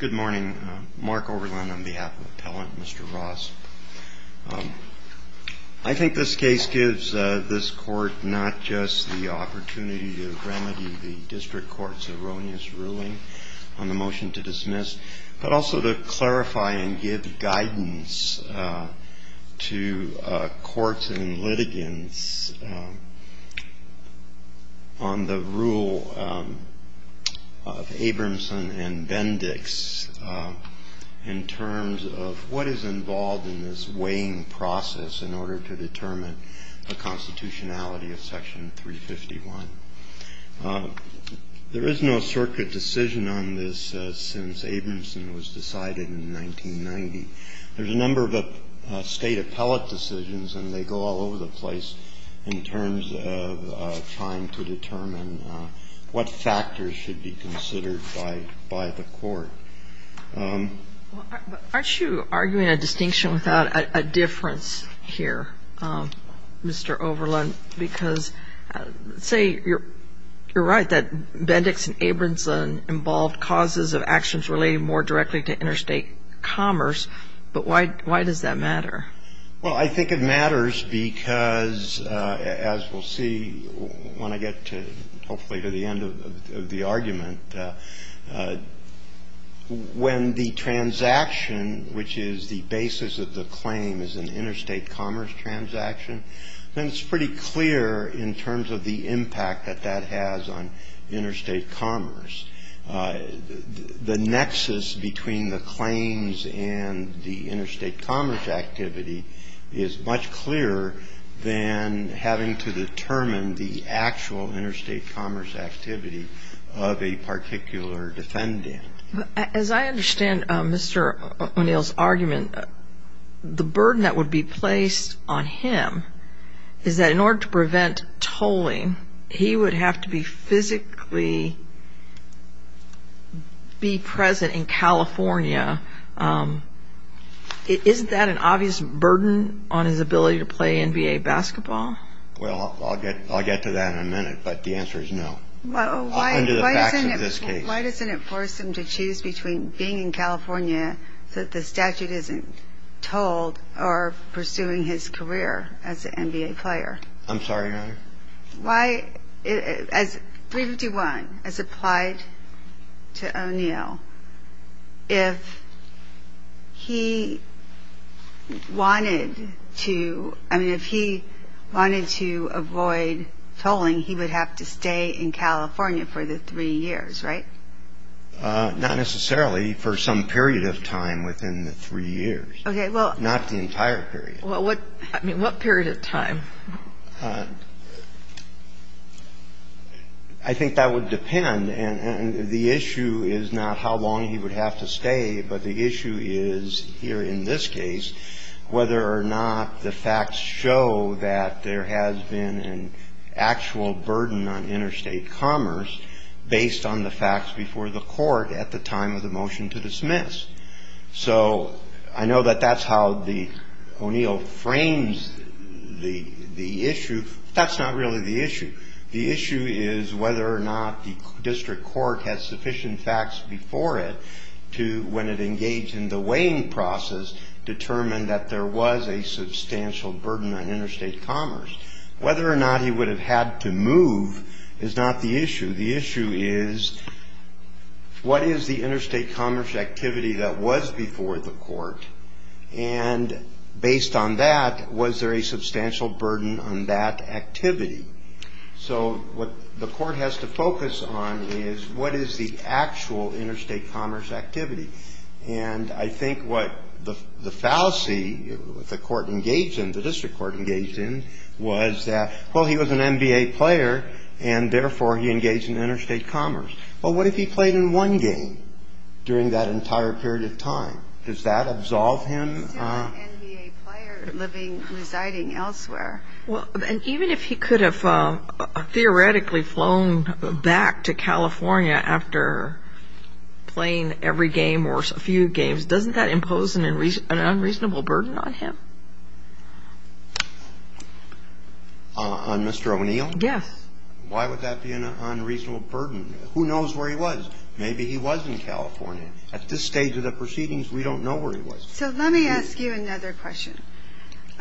Good morning. Mark Overland on behalf of Appellant Mr. Ross. I think this case gives this court not just the opportunity to remedy the district court's erroneous ruling on the motion to dismiss, but also to clarify and give guidance to courts and litigants on the rule of Abramson and Bendix in terms of what is involved in this weighing process in order to determine the constitutionality of section 351. There is no circuit decision on this since Abramson was decided in 1990. There's a number of state appellate decisions and they go all over the court. Aren't you arguing a distinction without a difference here, Mr. Overland? Because say you're right that Bendix and Abramson involved causes of actions relating more directly to interstate commerce, but why does that matter? Well, I think it matters because, as we'll see when I get to hopefully to the end of the argument, when the transaction which is the basis of the claim is an interstate commerce transaction, then it's pretty clear in terms of the impact that that has on interstate commerce. The nexus between the claims and the interstate commerce activity is much clearer than having to determine the actual interstate commerce activity of a particular defendant. As I understand Mr. O'Neill's argument, the burden that would be placed on him is that in order to prevent tolling, he would have to physically be present in California. Isn't that an obvious burden on his ability to play NBA basketball? Well, I'll get to that in a minute, but the answer is no. Why doesn't it force him to choose between being in California that the statute isn't tolled or pursuing his career as an NBA player? I'm sorry, Your Honor? Why, as 351 as applied to O'Neill, if he wanted to, I mean, if he wanted to avoid tolling, he would have to stay in California for the three years, right? Not necessarily. For some period of time within the three years. Okay, well. Not the entire period. I think that would depend. And the issue is not how long he would have to stay, but the issue is here in this case whether or not the facts show that there has been an actual burden on interstate commerce based on the facts before the Court at the time of the motion to dismiss. So I know that that's how the O'Neill frames the issue. That's not really the issue. The issue is whether or not the District Court has sufficient facts before it to, when it engaged in the weighing process, determine that there was a substantial burden on interstate commerce. Whether or not he would have had to move is not the issue. The issue is, what is the interstate commerce activity that was before the Court? And based on that, was there a substantial burden on that activity? So what the Court has to focus on is, what is the actual interstate commerce activity? And I think what the fallacy, the Court engaged in, the District Court engaged in, was that, well, he was an NBA player, and therefore he engaged in interstate commerce. Well, what if he played in one game during that entire period of time? Does that absolve him? He's still an NBA player living, residing elsewhere. Well, and even if he could have theoretically flown back to California after playing every game or a few games, doesn't that impose an unreasonable burden on him? On Mr. O'Neill? Yes. Why would that be an unreasonable burden? Who knows where he was? Maybe he was in California. At this stage of the proceedings, we don't know where he was. So let me ask you another question.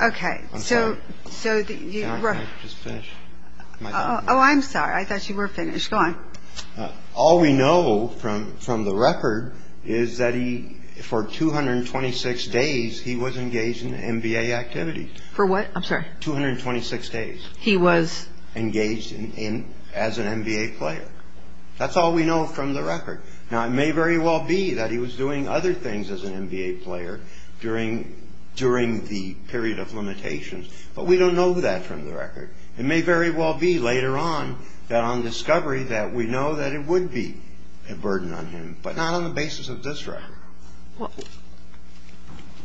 Okay. I'm sorry. So you were – Just finish. Oh, I'm sorry. I thought you were finished. Go on. All we know from the record is that he, for 226 days, he was engaged in NBA activity. For what? I'm sorry. 226 days. He was? Engaged as an NBA player. That's all we know from the record. Now, it may very well be that he was doing other things as an NBA player during the period of limitations. But we don't know that from the record. It may very well be later on that on discovery that we know that it would be a burden on him, but not on the basis of this record. Well,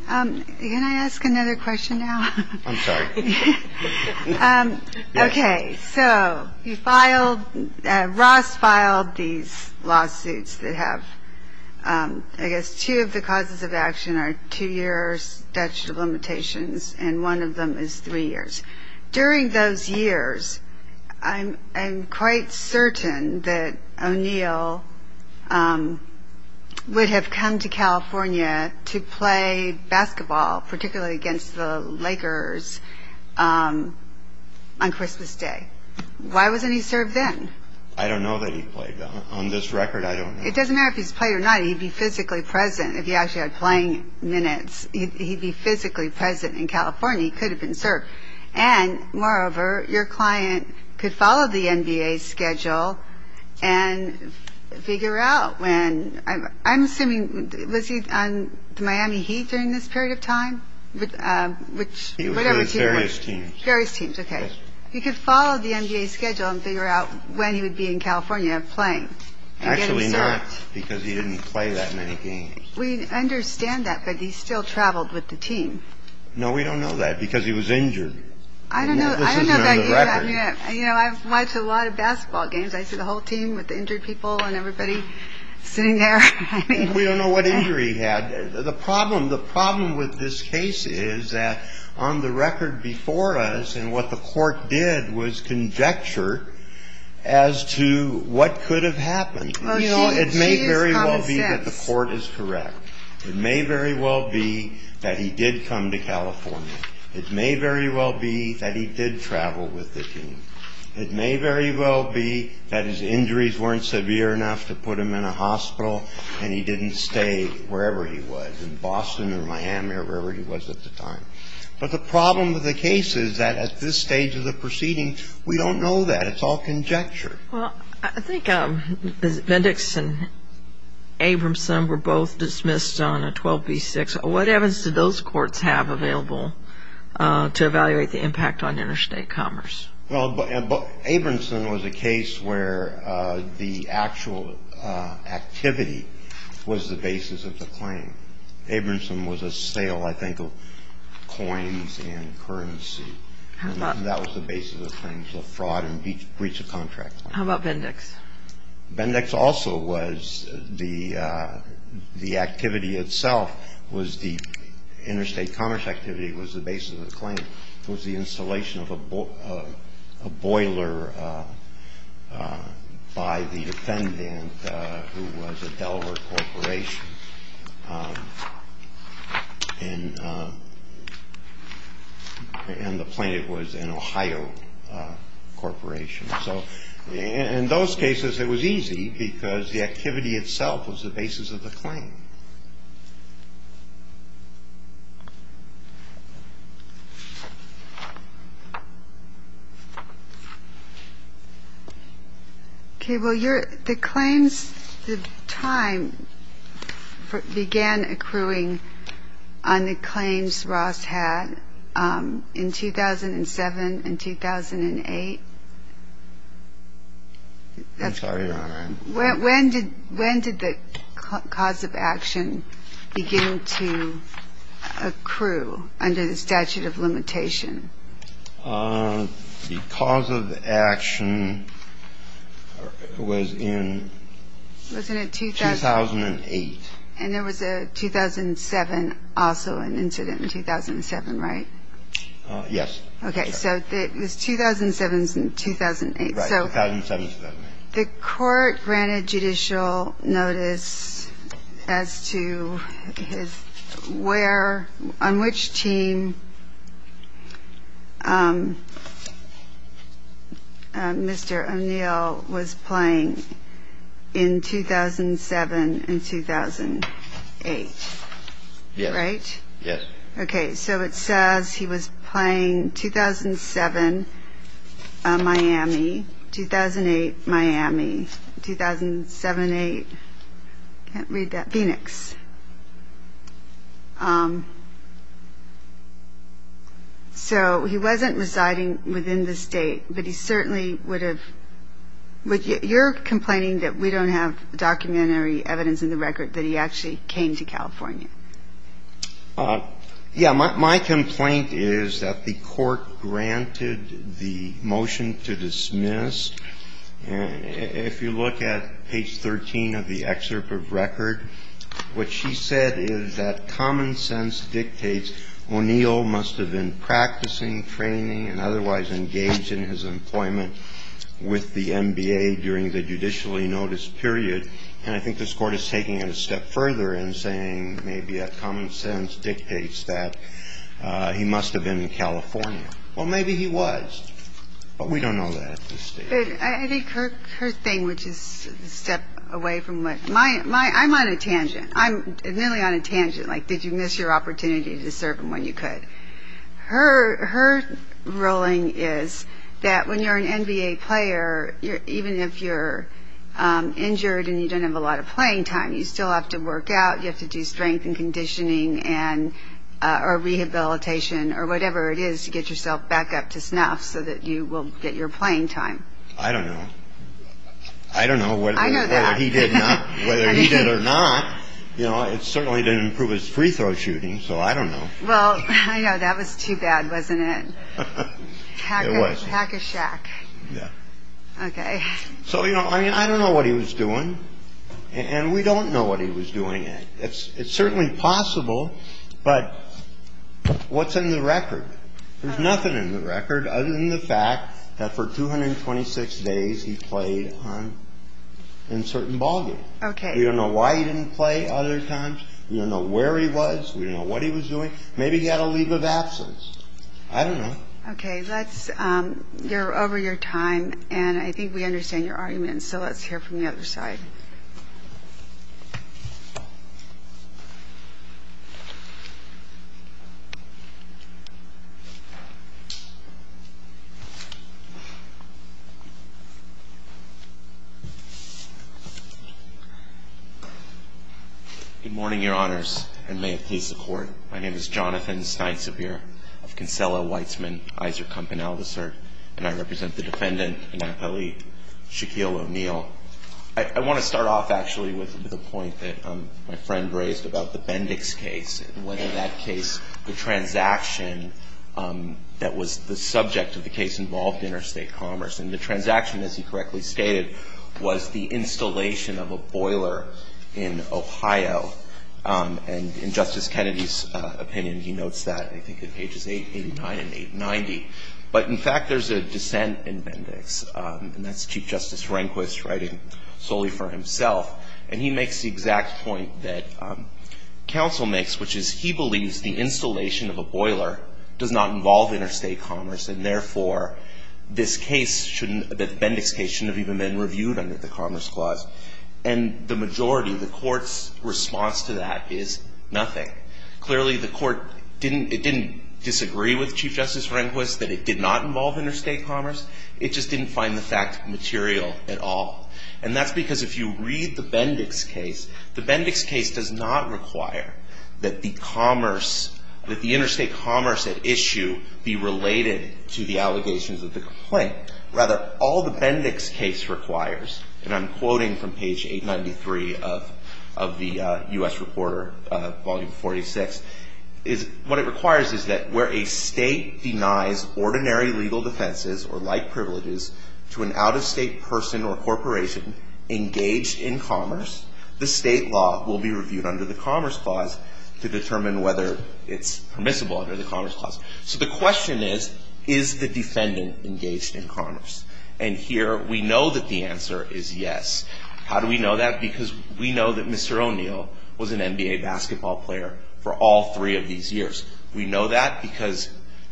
can I ask another question now? I'm sorry. Okay. So you filed – Ross filed these lawsuits that have – I guess two of the causes of action are two-year statute of limitations, and one of them is three years. During those years, I'm quite certain that O'Neill would have come to California to play basketball, particularly against the Lakers on Christmas Day. Why wasn't he served then? I don't know that he played, though. On this record, I don't know. It doesn't matter if he's played or not. He'd be physically present. If he actually had playing minutes, he'd be physically present in California. He could have been served. And moreover, your client could follow the NBA schedule and figure out when – I'm assuming, was he on the Miami Heat during this period of time? Which – He was on various teams. Various teams, okay. He could follow the NBA schedule and figure out when he would be in California playing. Actually not, because he didn't play that many games. We understand that, but he still traveled with the team. No, we don't know that, because he was injured. I don't know – This is not on the record. You know, I've watched a lot of basketball games. I see the whole team with the injured people and everybody sitting there. We don't know what injury he had. The problem with this case is that on the record before us, and what the court did was conjecture as to what could have happened. It may very well be that the court is correct. It may very well be that he did come to California. It may very well be that he did travel with the team. It may very well be that his injuries weren't severe enough to put him in a hospital and he didn't stay wherever he was in Boston or Miami or wherever he was at the time. But the problem with the case is that at this stage of the proceeding, we don't know that. It's all conjecture. Well, I think Mendix and Abramson were both dismissed on a 12b-6. What evidence did those courts have available to evaluate the impact on interstate commerce? Abramson was a case where the actual activity was the basis of the claim. Abramson was a sale, I think, of coins and currency. That was the basis of the claims, the fraud and breach of contract. How about Mendix? Mendix also was the activity itself, was the interstate commerce activity, was the basis of the claim, was the installation of a boiler by the defendant who was a Delaware corporation and the plaintiff was an Ohio corporation. So in those cases it was easy because the activity itself was the basis of the claim. Okay, well, the claims at the time began accruing on the claims Ross had in 2007 and 2008. I'm sorry, Your Honor. When did the cause of action begin to accrue under the statute of limitation? The cause of action was in 2008. And there was a 2007 also, an incident in 2007, right? Yes. Okay, so it was 2007 and 2008. Right, 2007 and 2008. The court granted judicial notice as to where, on which team Mr. O'Neill was playing in 2007 and 2008. Yes. Right? Yes. Okay, so it says he was playing 2007, Miami. 2008, Miami. 2007, eight. I can't read that. Phoenix. So he wasn't residing within the state, but he certainly would have... You're complaining that we don't have documentary evidence in the record that he actually came to California. Yeah, my complaint is that the court granted the motion to dismiss. If you look at page 13 of the excerpt of record, what she said is that common sense dictates O'Neill must have been practicing, training, and otherwise engaged in his employment with the NBA during the judicially noticed period. And I think this court is taking it a step further and saying maybe that common sense dictates that he must have been in California. Well, maybe he was, but we don't know that at this stage. I think her thing, which is a step away from what... I'm on a tangent. I'm really on a tangent. Like, did you miss your opportunity to serve him when you could? Her ruling is that when you're an NBA player, even if you're injured and you don't have a lot of playing time, you still have to work out. You have to do strength and conditioning or rehabilitation or whatever it is to get yourself back up to snuff so that you will get your playing time. I don't know. I don't know whether he did or not. It certainly didn't improve his free throw shooting, so I don't know. Well, I know. That was too bad, wasn't it? It was. Hack a shack. Yeah. Okay. So, you know, I mean, I don't know what he was doing. And we don't know what he was doing. It's certainly possible, but what's in the record? There's nothing in the record other than the fact that for 226 days he played in certain ballgames. We don't know why he didn't play other times. We don't know where he was. We don't know what he was doing. Maybe he had a leave of absence. I don't know. Okay. You're over your time, and I think we understand your argument. So let's hear from the other side. Good morning, Your Honors, and may it please the Court. My name is Jonathan Steinsabir of Kinsella-Weitzman-Eyserkamp & Aldersert, and I represent the defendant, Anapali Shaquille O'Neal. I want to start off, actually, with a point that my friend raised about the Bendix case that was the subject of the case involved interstate commerce. And the transaction, as he correctly stated, was the installation of a boiler in Ohio. And in Justice Kennedy's opinion, he notes that, I think, in pages 889 and 890. But, in fact, there's a dissent in Bendix, and that's Chief Justice Rehnquist writing solely for himself. And he makes the exact point that counsel makes, which is he believes the installation of a boiler does not involve interstate commerce, and therefore, this case shouldn't, the Bendix case shouldn't have even been reviewed under the Commerce Clause. And the majority, the Court's response to that is nothing. Clearly, the Court didn't, it didn't disagree with Chief Justice Rehnquist that it did not involve interstate commerce. It just didn't find the fact material at all. And that's because if you read the Bendix case, the Bendix case does not require that the commerce, that the interstate commerce at issue be related to the allegations of the complaint. Rather, all the Bendix case requires, and I'm quoting from page 893 of the U.S. Reporter, Volume 46, is what it requires is that, where a state denies ordinary legal defenses or like privileges to an out-of-state person or corporation engaged in commerce, the state law will be reviewed under the Commerce Clause to determine whether it's permissible under the Commerce Clause. So the question is, is the defendant engaged in commerce? And here, we know that the answer is yes. How do we know that? Because we know that Mr. O'Neill was an NBA basketball player for all three of these years. We know that because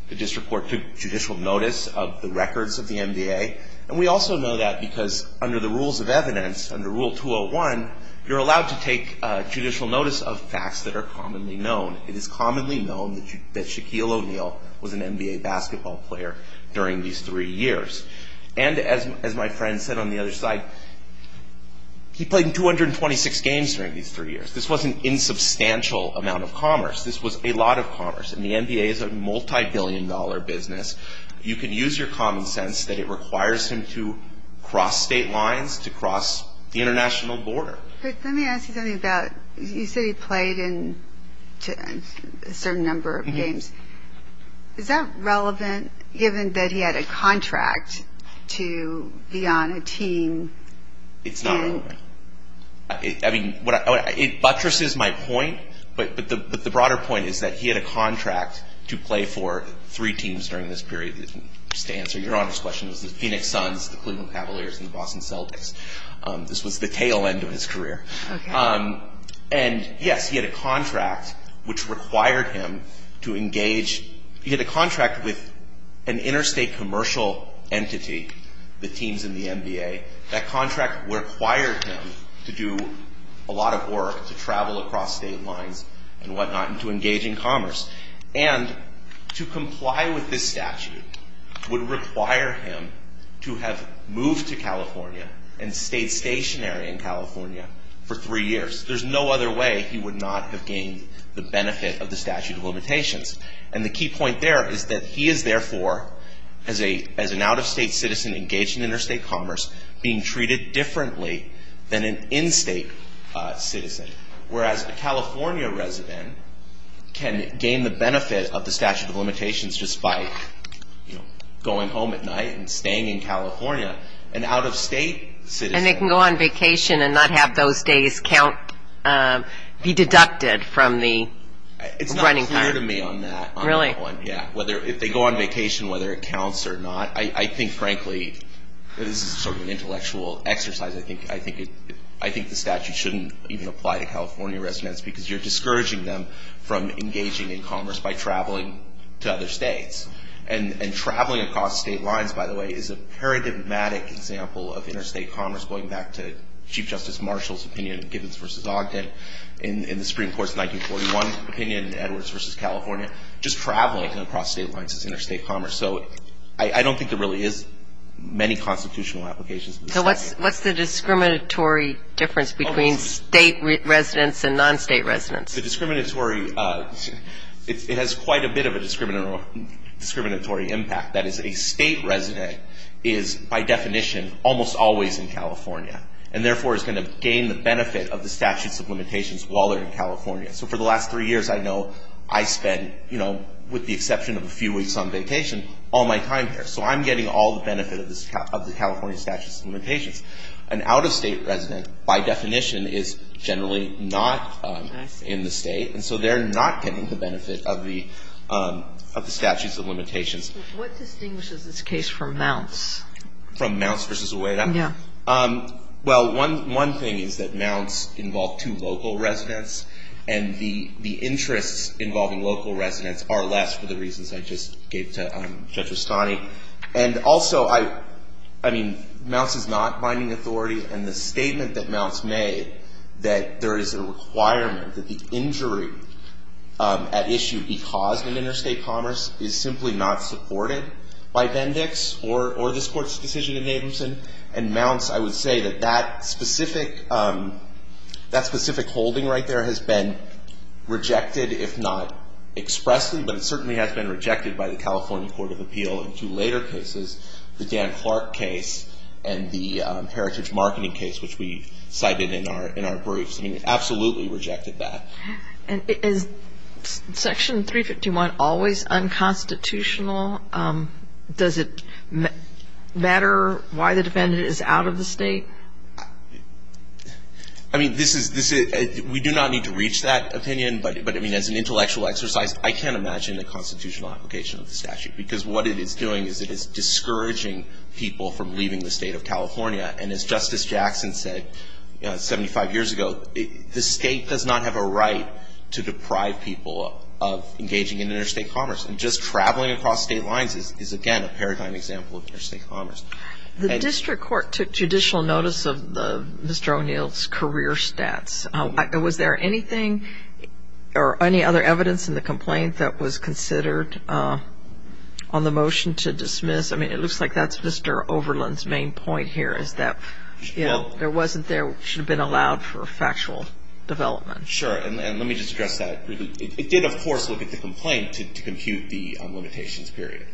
the District Court took judicial notice of the records of the NBA. And we also know that because under the rules of evidence, under Rule 201, you're allowed to take judicial notice of facts that are commonly known. It is commonly known that Shaquille O'Neal was an NBA basketball player during these three years. And as my friend said on the other side, he played in 226 games during these three years. This wasn't an insubstantial amount of commerce. This was a lot of commerce. And the NBA is a multibillion-dollar business. You can use your common sense that it requires him to cross state lines, to cross the international border. Let me ask you something about, you said he played in a certain number of games. Is that relevant, given that he had a contract to be on a team? It's not relevant. I mean, it buttresses my point, but the broader point is that he had a contract to play for three teams during this period. Just to answer Your Honor's question, it was the Phoenix Suns, the Cleveland Cavaliers, and the Boston Celtics. This was the tail end of his career. And yes, he had a contract which required him to engage. He had a contract with an interstate commercial entity, the teams in the NBA. That contract required him to do a lot of work, to travel across state lines and whatnot, and to engage in commerce. And to comply with this statute would require him to have moved to California and stayed stationary in California for three years. There's no other way he would not have gained the benefit of the statute of limitations. And the key point there is that he is therefore, as an out-of-state citizen engaged in interstate commerce, being treated differently than an in-state citizen. Whereas a California resident can gain the benefit of the statute of limitations just by going home at night and staying in California. An out-of-state citizen... And they can go on vacation and not have those days be deducted from the running card. It's not clear to me on that. If they go on vacation, whether it counts or not. I think, frankly, this is sort of an intellectual exercise. I think the statute shouldn't even apply to California residents because you're discouraging them from engaging in commerce by traveling to other states. And traveling across state lines, by the way, is a paradigmatic example of interstate commerce. Going back to Chief Justice Marshall's opinion, Gibbons v. Ogden, in the Supreme Court's 1941 opinion, Edwards v. California, just traveling across state lines is interstate commerce. So I don't think there really is many constitutional applications. So what's the discriminatory difference between state residents and non-state residents? The discriminatory... It has quite a bit of a discriminatory impact. That is, a state resident is, by definition, almost always in California. And therefore is going to gain the benefit of the statute of limitations while they're in California. So for the last three years, I know I spent, with the exception of a few weeks on vacation, all my time here. So I'm getting all the benefit of the California statute of limitations. An out-of-state resident, by definition, is generally not in the state. And so they're not getting the benefit of the statute of limitations. What distinguishes this case from Mounts? From Mounts v. Oueda? Yeah. Well, one thing is that Mounts involved two local residents. And the interests involving local residents are less for the reasons I just gave to Judge Rustani. And also, I mean, Mounts is not binding authority. And the statement that Mounts made that there is a requirement that the injury at issue be caused in interstate commerce is simply not supported by Bendix or this Court's decision in Adamson. And Mounts, I would say that that specific holding right there has been rejected, if not expressly. But it certainly has been rejected by the California Court of Appeal in two later cases, the Dan Clark case and the Heritage Marketing case, which we cited in our briefs. I mean, it absolutely rejected that. And is Section 351 always unconstitutional? Does it matter why the defendant is out of the state? I mean, we do not need to reach that opinion. But, I mean, as an intellectual exercise, I can't imagine a constitutional application of the statute because what it is doing is it is discouraging people from leaving the state of California. And as Justice Jackson said 75 years ago, the state does not have a right to deprive people of engaging in interstate commerce. And just traveling across state lines is, again, a paradigm example of interstate commerce. The district court took judicial notice of Mr. O'Neill's career stats. Was there anything or any other evidence in the complaint that was considered on the motion to dismiss? I mean, it looks like that's Mr. Overland's main point here is that there wasn't, there should have been allowed for factual development. Sure, and let me just address that. It did, of course, look at the complaint to compute the limitations period.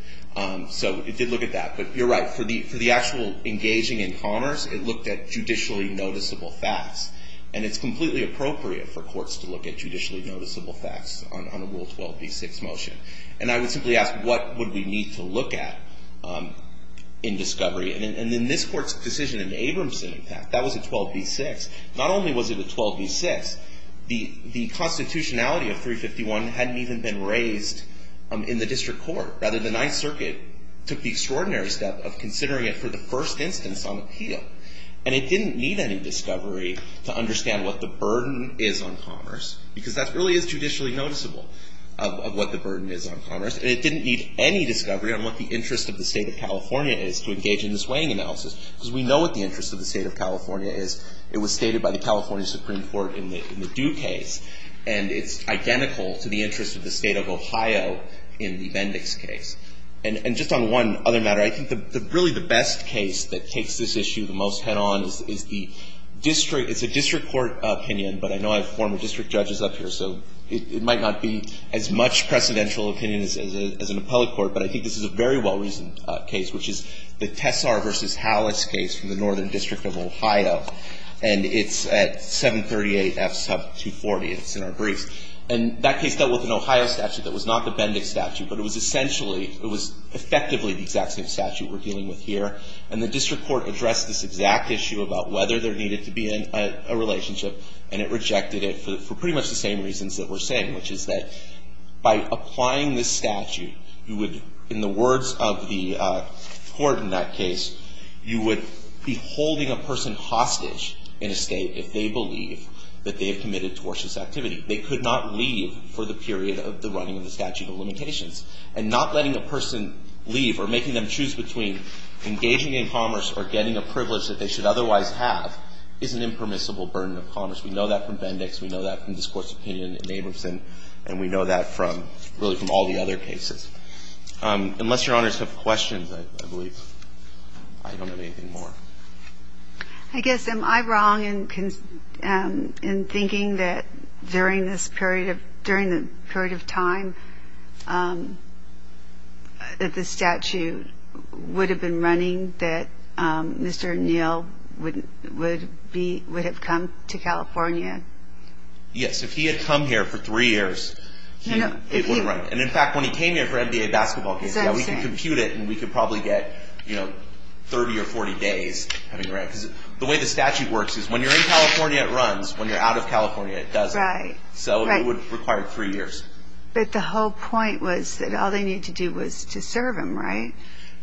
So it did look at that. But you're right, for the actual engaging in commerce, it looked at judicially noticeable facts. And it's completely appropriate for courts to look at judicially noticeable facts on a Rule 12b-6 motion. And I would simply ask, what would we need to look at in discovery? And in this court's decision in Abramson, in fact, that was a 12b-6. Not only was it a 12b-6, the constitutionality of 351 hadn't even been raised in the district court. Rather, the Ninth Circuit took the extraordinary step of considering it for the first instance on appeal. And it didn't need any discovery to understand what the burden is on commerce. Because that really is judicially noticeable of what the burden is on commerce. And it didn't need any discovery on what the interest of the state of California is to engage in this weighing analysis. Because we know what the interest of the state of California is. It was stated by the California Supreme Court in the Due case. And it's identical to the interest of the state of Ohio in the Mendix case. And just on one other matter, I think really the best case that takes this issue the most head-on is the district court opinion. But I know I have former district judges up here, so it might not be as much precedential opinion as an appellate court. But I think this is a very well-reasoned case, which is the Tessar v. Hallis case from the Northern District of Ohio. And it's at 738F sub 240. It's in our briefs. And that case dealt with an Ohio statute that was not the Mendix statute. But it was essentially, it was effectively the exact same statute we're dealing with here. And the district court addressed this exact issue about whether there needed to be a relationship. And it rejected it for pretty much the same reasons that we're saying, which is that by applying this statute, you would, in the words of the court in that case, you would be holding a person hostage in a state if they believe that they have committed tortious activity. They could not leave for the period of the running of the statute of limitations. And not letting a person leave or making them choose between engaging in commerce or getting a privilege that they should otherwise have is an impermissible burden of commerce. We know that from Mendix. We know that from this Court's opinion in Abramson. And we know that from, really from all the other cases. Unless Your Honors have questions, I believe I don't have anything more. I guess am I wrong in thinking that during this period of, during the period of time that the statute would have been running that Mr. O'Neill would have come to California? Yes. If he had come here for three years, it wouldn't run. And in fact, when he came here for NBA basketball games, we can compute it and we could probably get 30 or 40 days. The way the statute works is when you're in California, it runs. When you're out of California, it doesn't. So it would require three years. But the whole point was that all they needed to do was to serve him, right?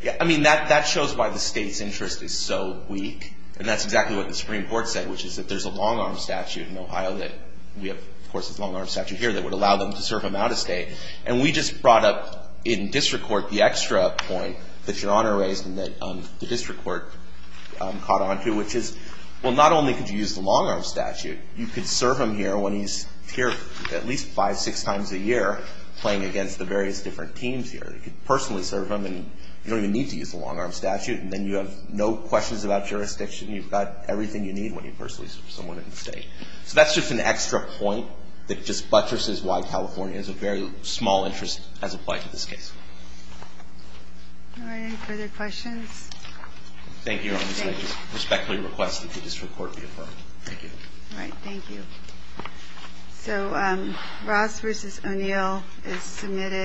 Yeah. I mean, that shows why the state's interest is so weak. And that's exactly what the Supreme Court said, which is that there's a long-arm statute in Ohio that we have, of course, there's a long-arm statute here that would allow them to serve him out of state. And we just brought up in District Court the extra point that Your Honor raised and that the District Court caught onto, which is, well, not only could you use the long-arm statute, you could serve him here when he's here at least five, six times a year playing against the various different teams here. You could personally serve him and you don't even need to use the long-arm statute. And then you have no questions about jurisdiction. You've got everything you need when you personally serve someone in the state. So that's just an extra point that just buttresses why California has a very small interest as applied to this case. All right. Any further questions? Thank you, Your Honor. Thank you. Respectfully request that the District Court be affirmed. Thank you. All right. Thank you. So, Ross versus O'Neill is submitted.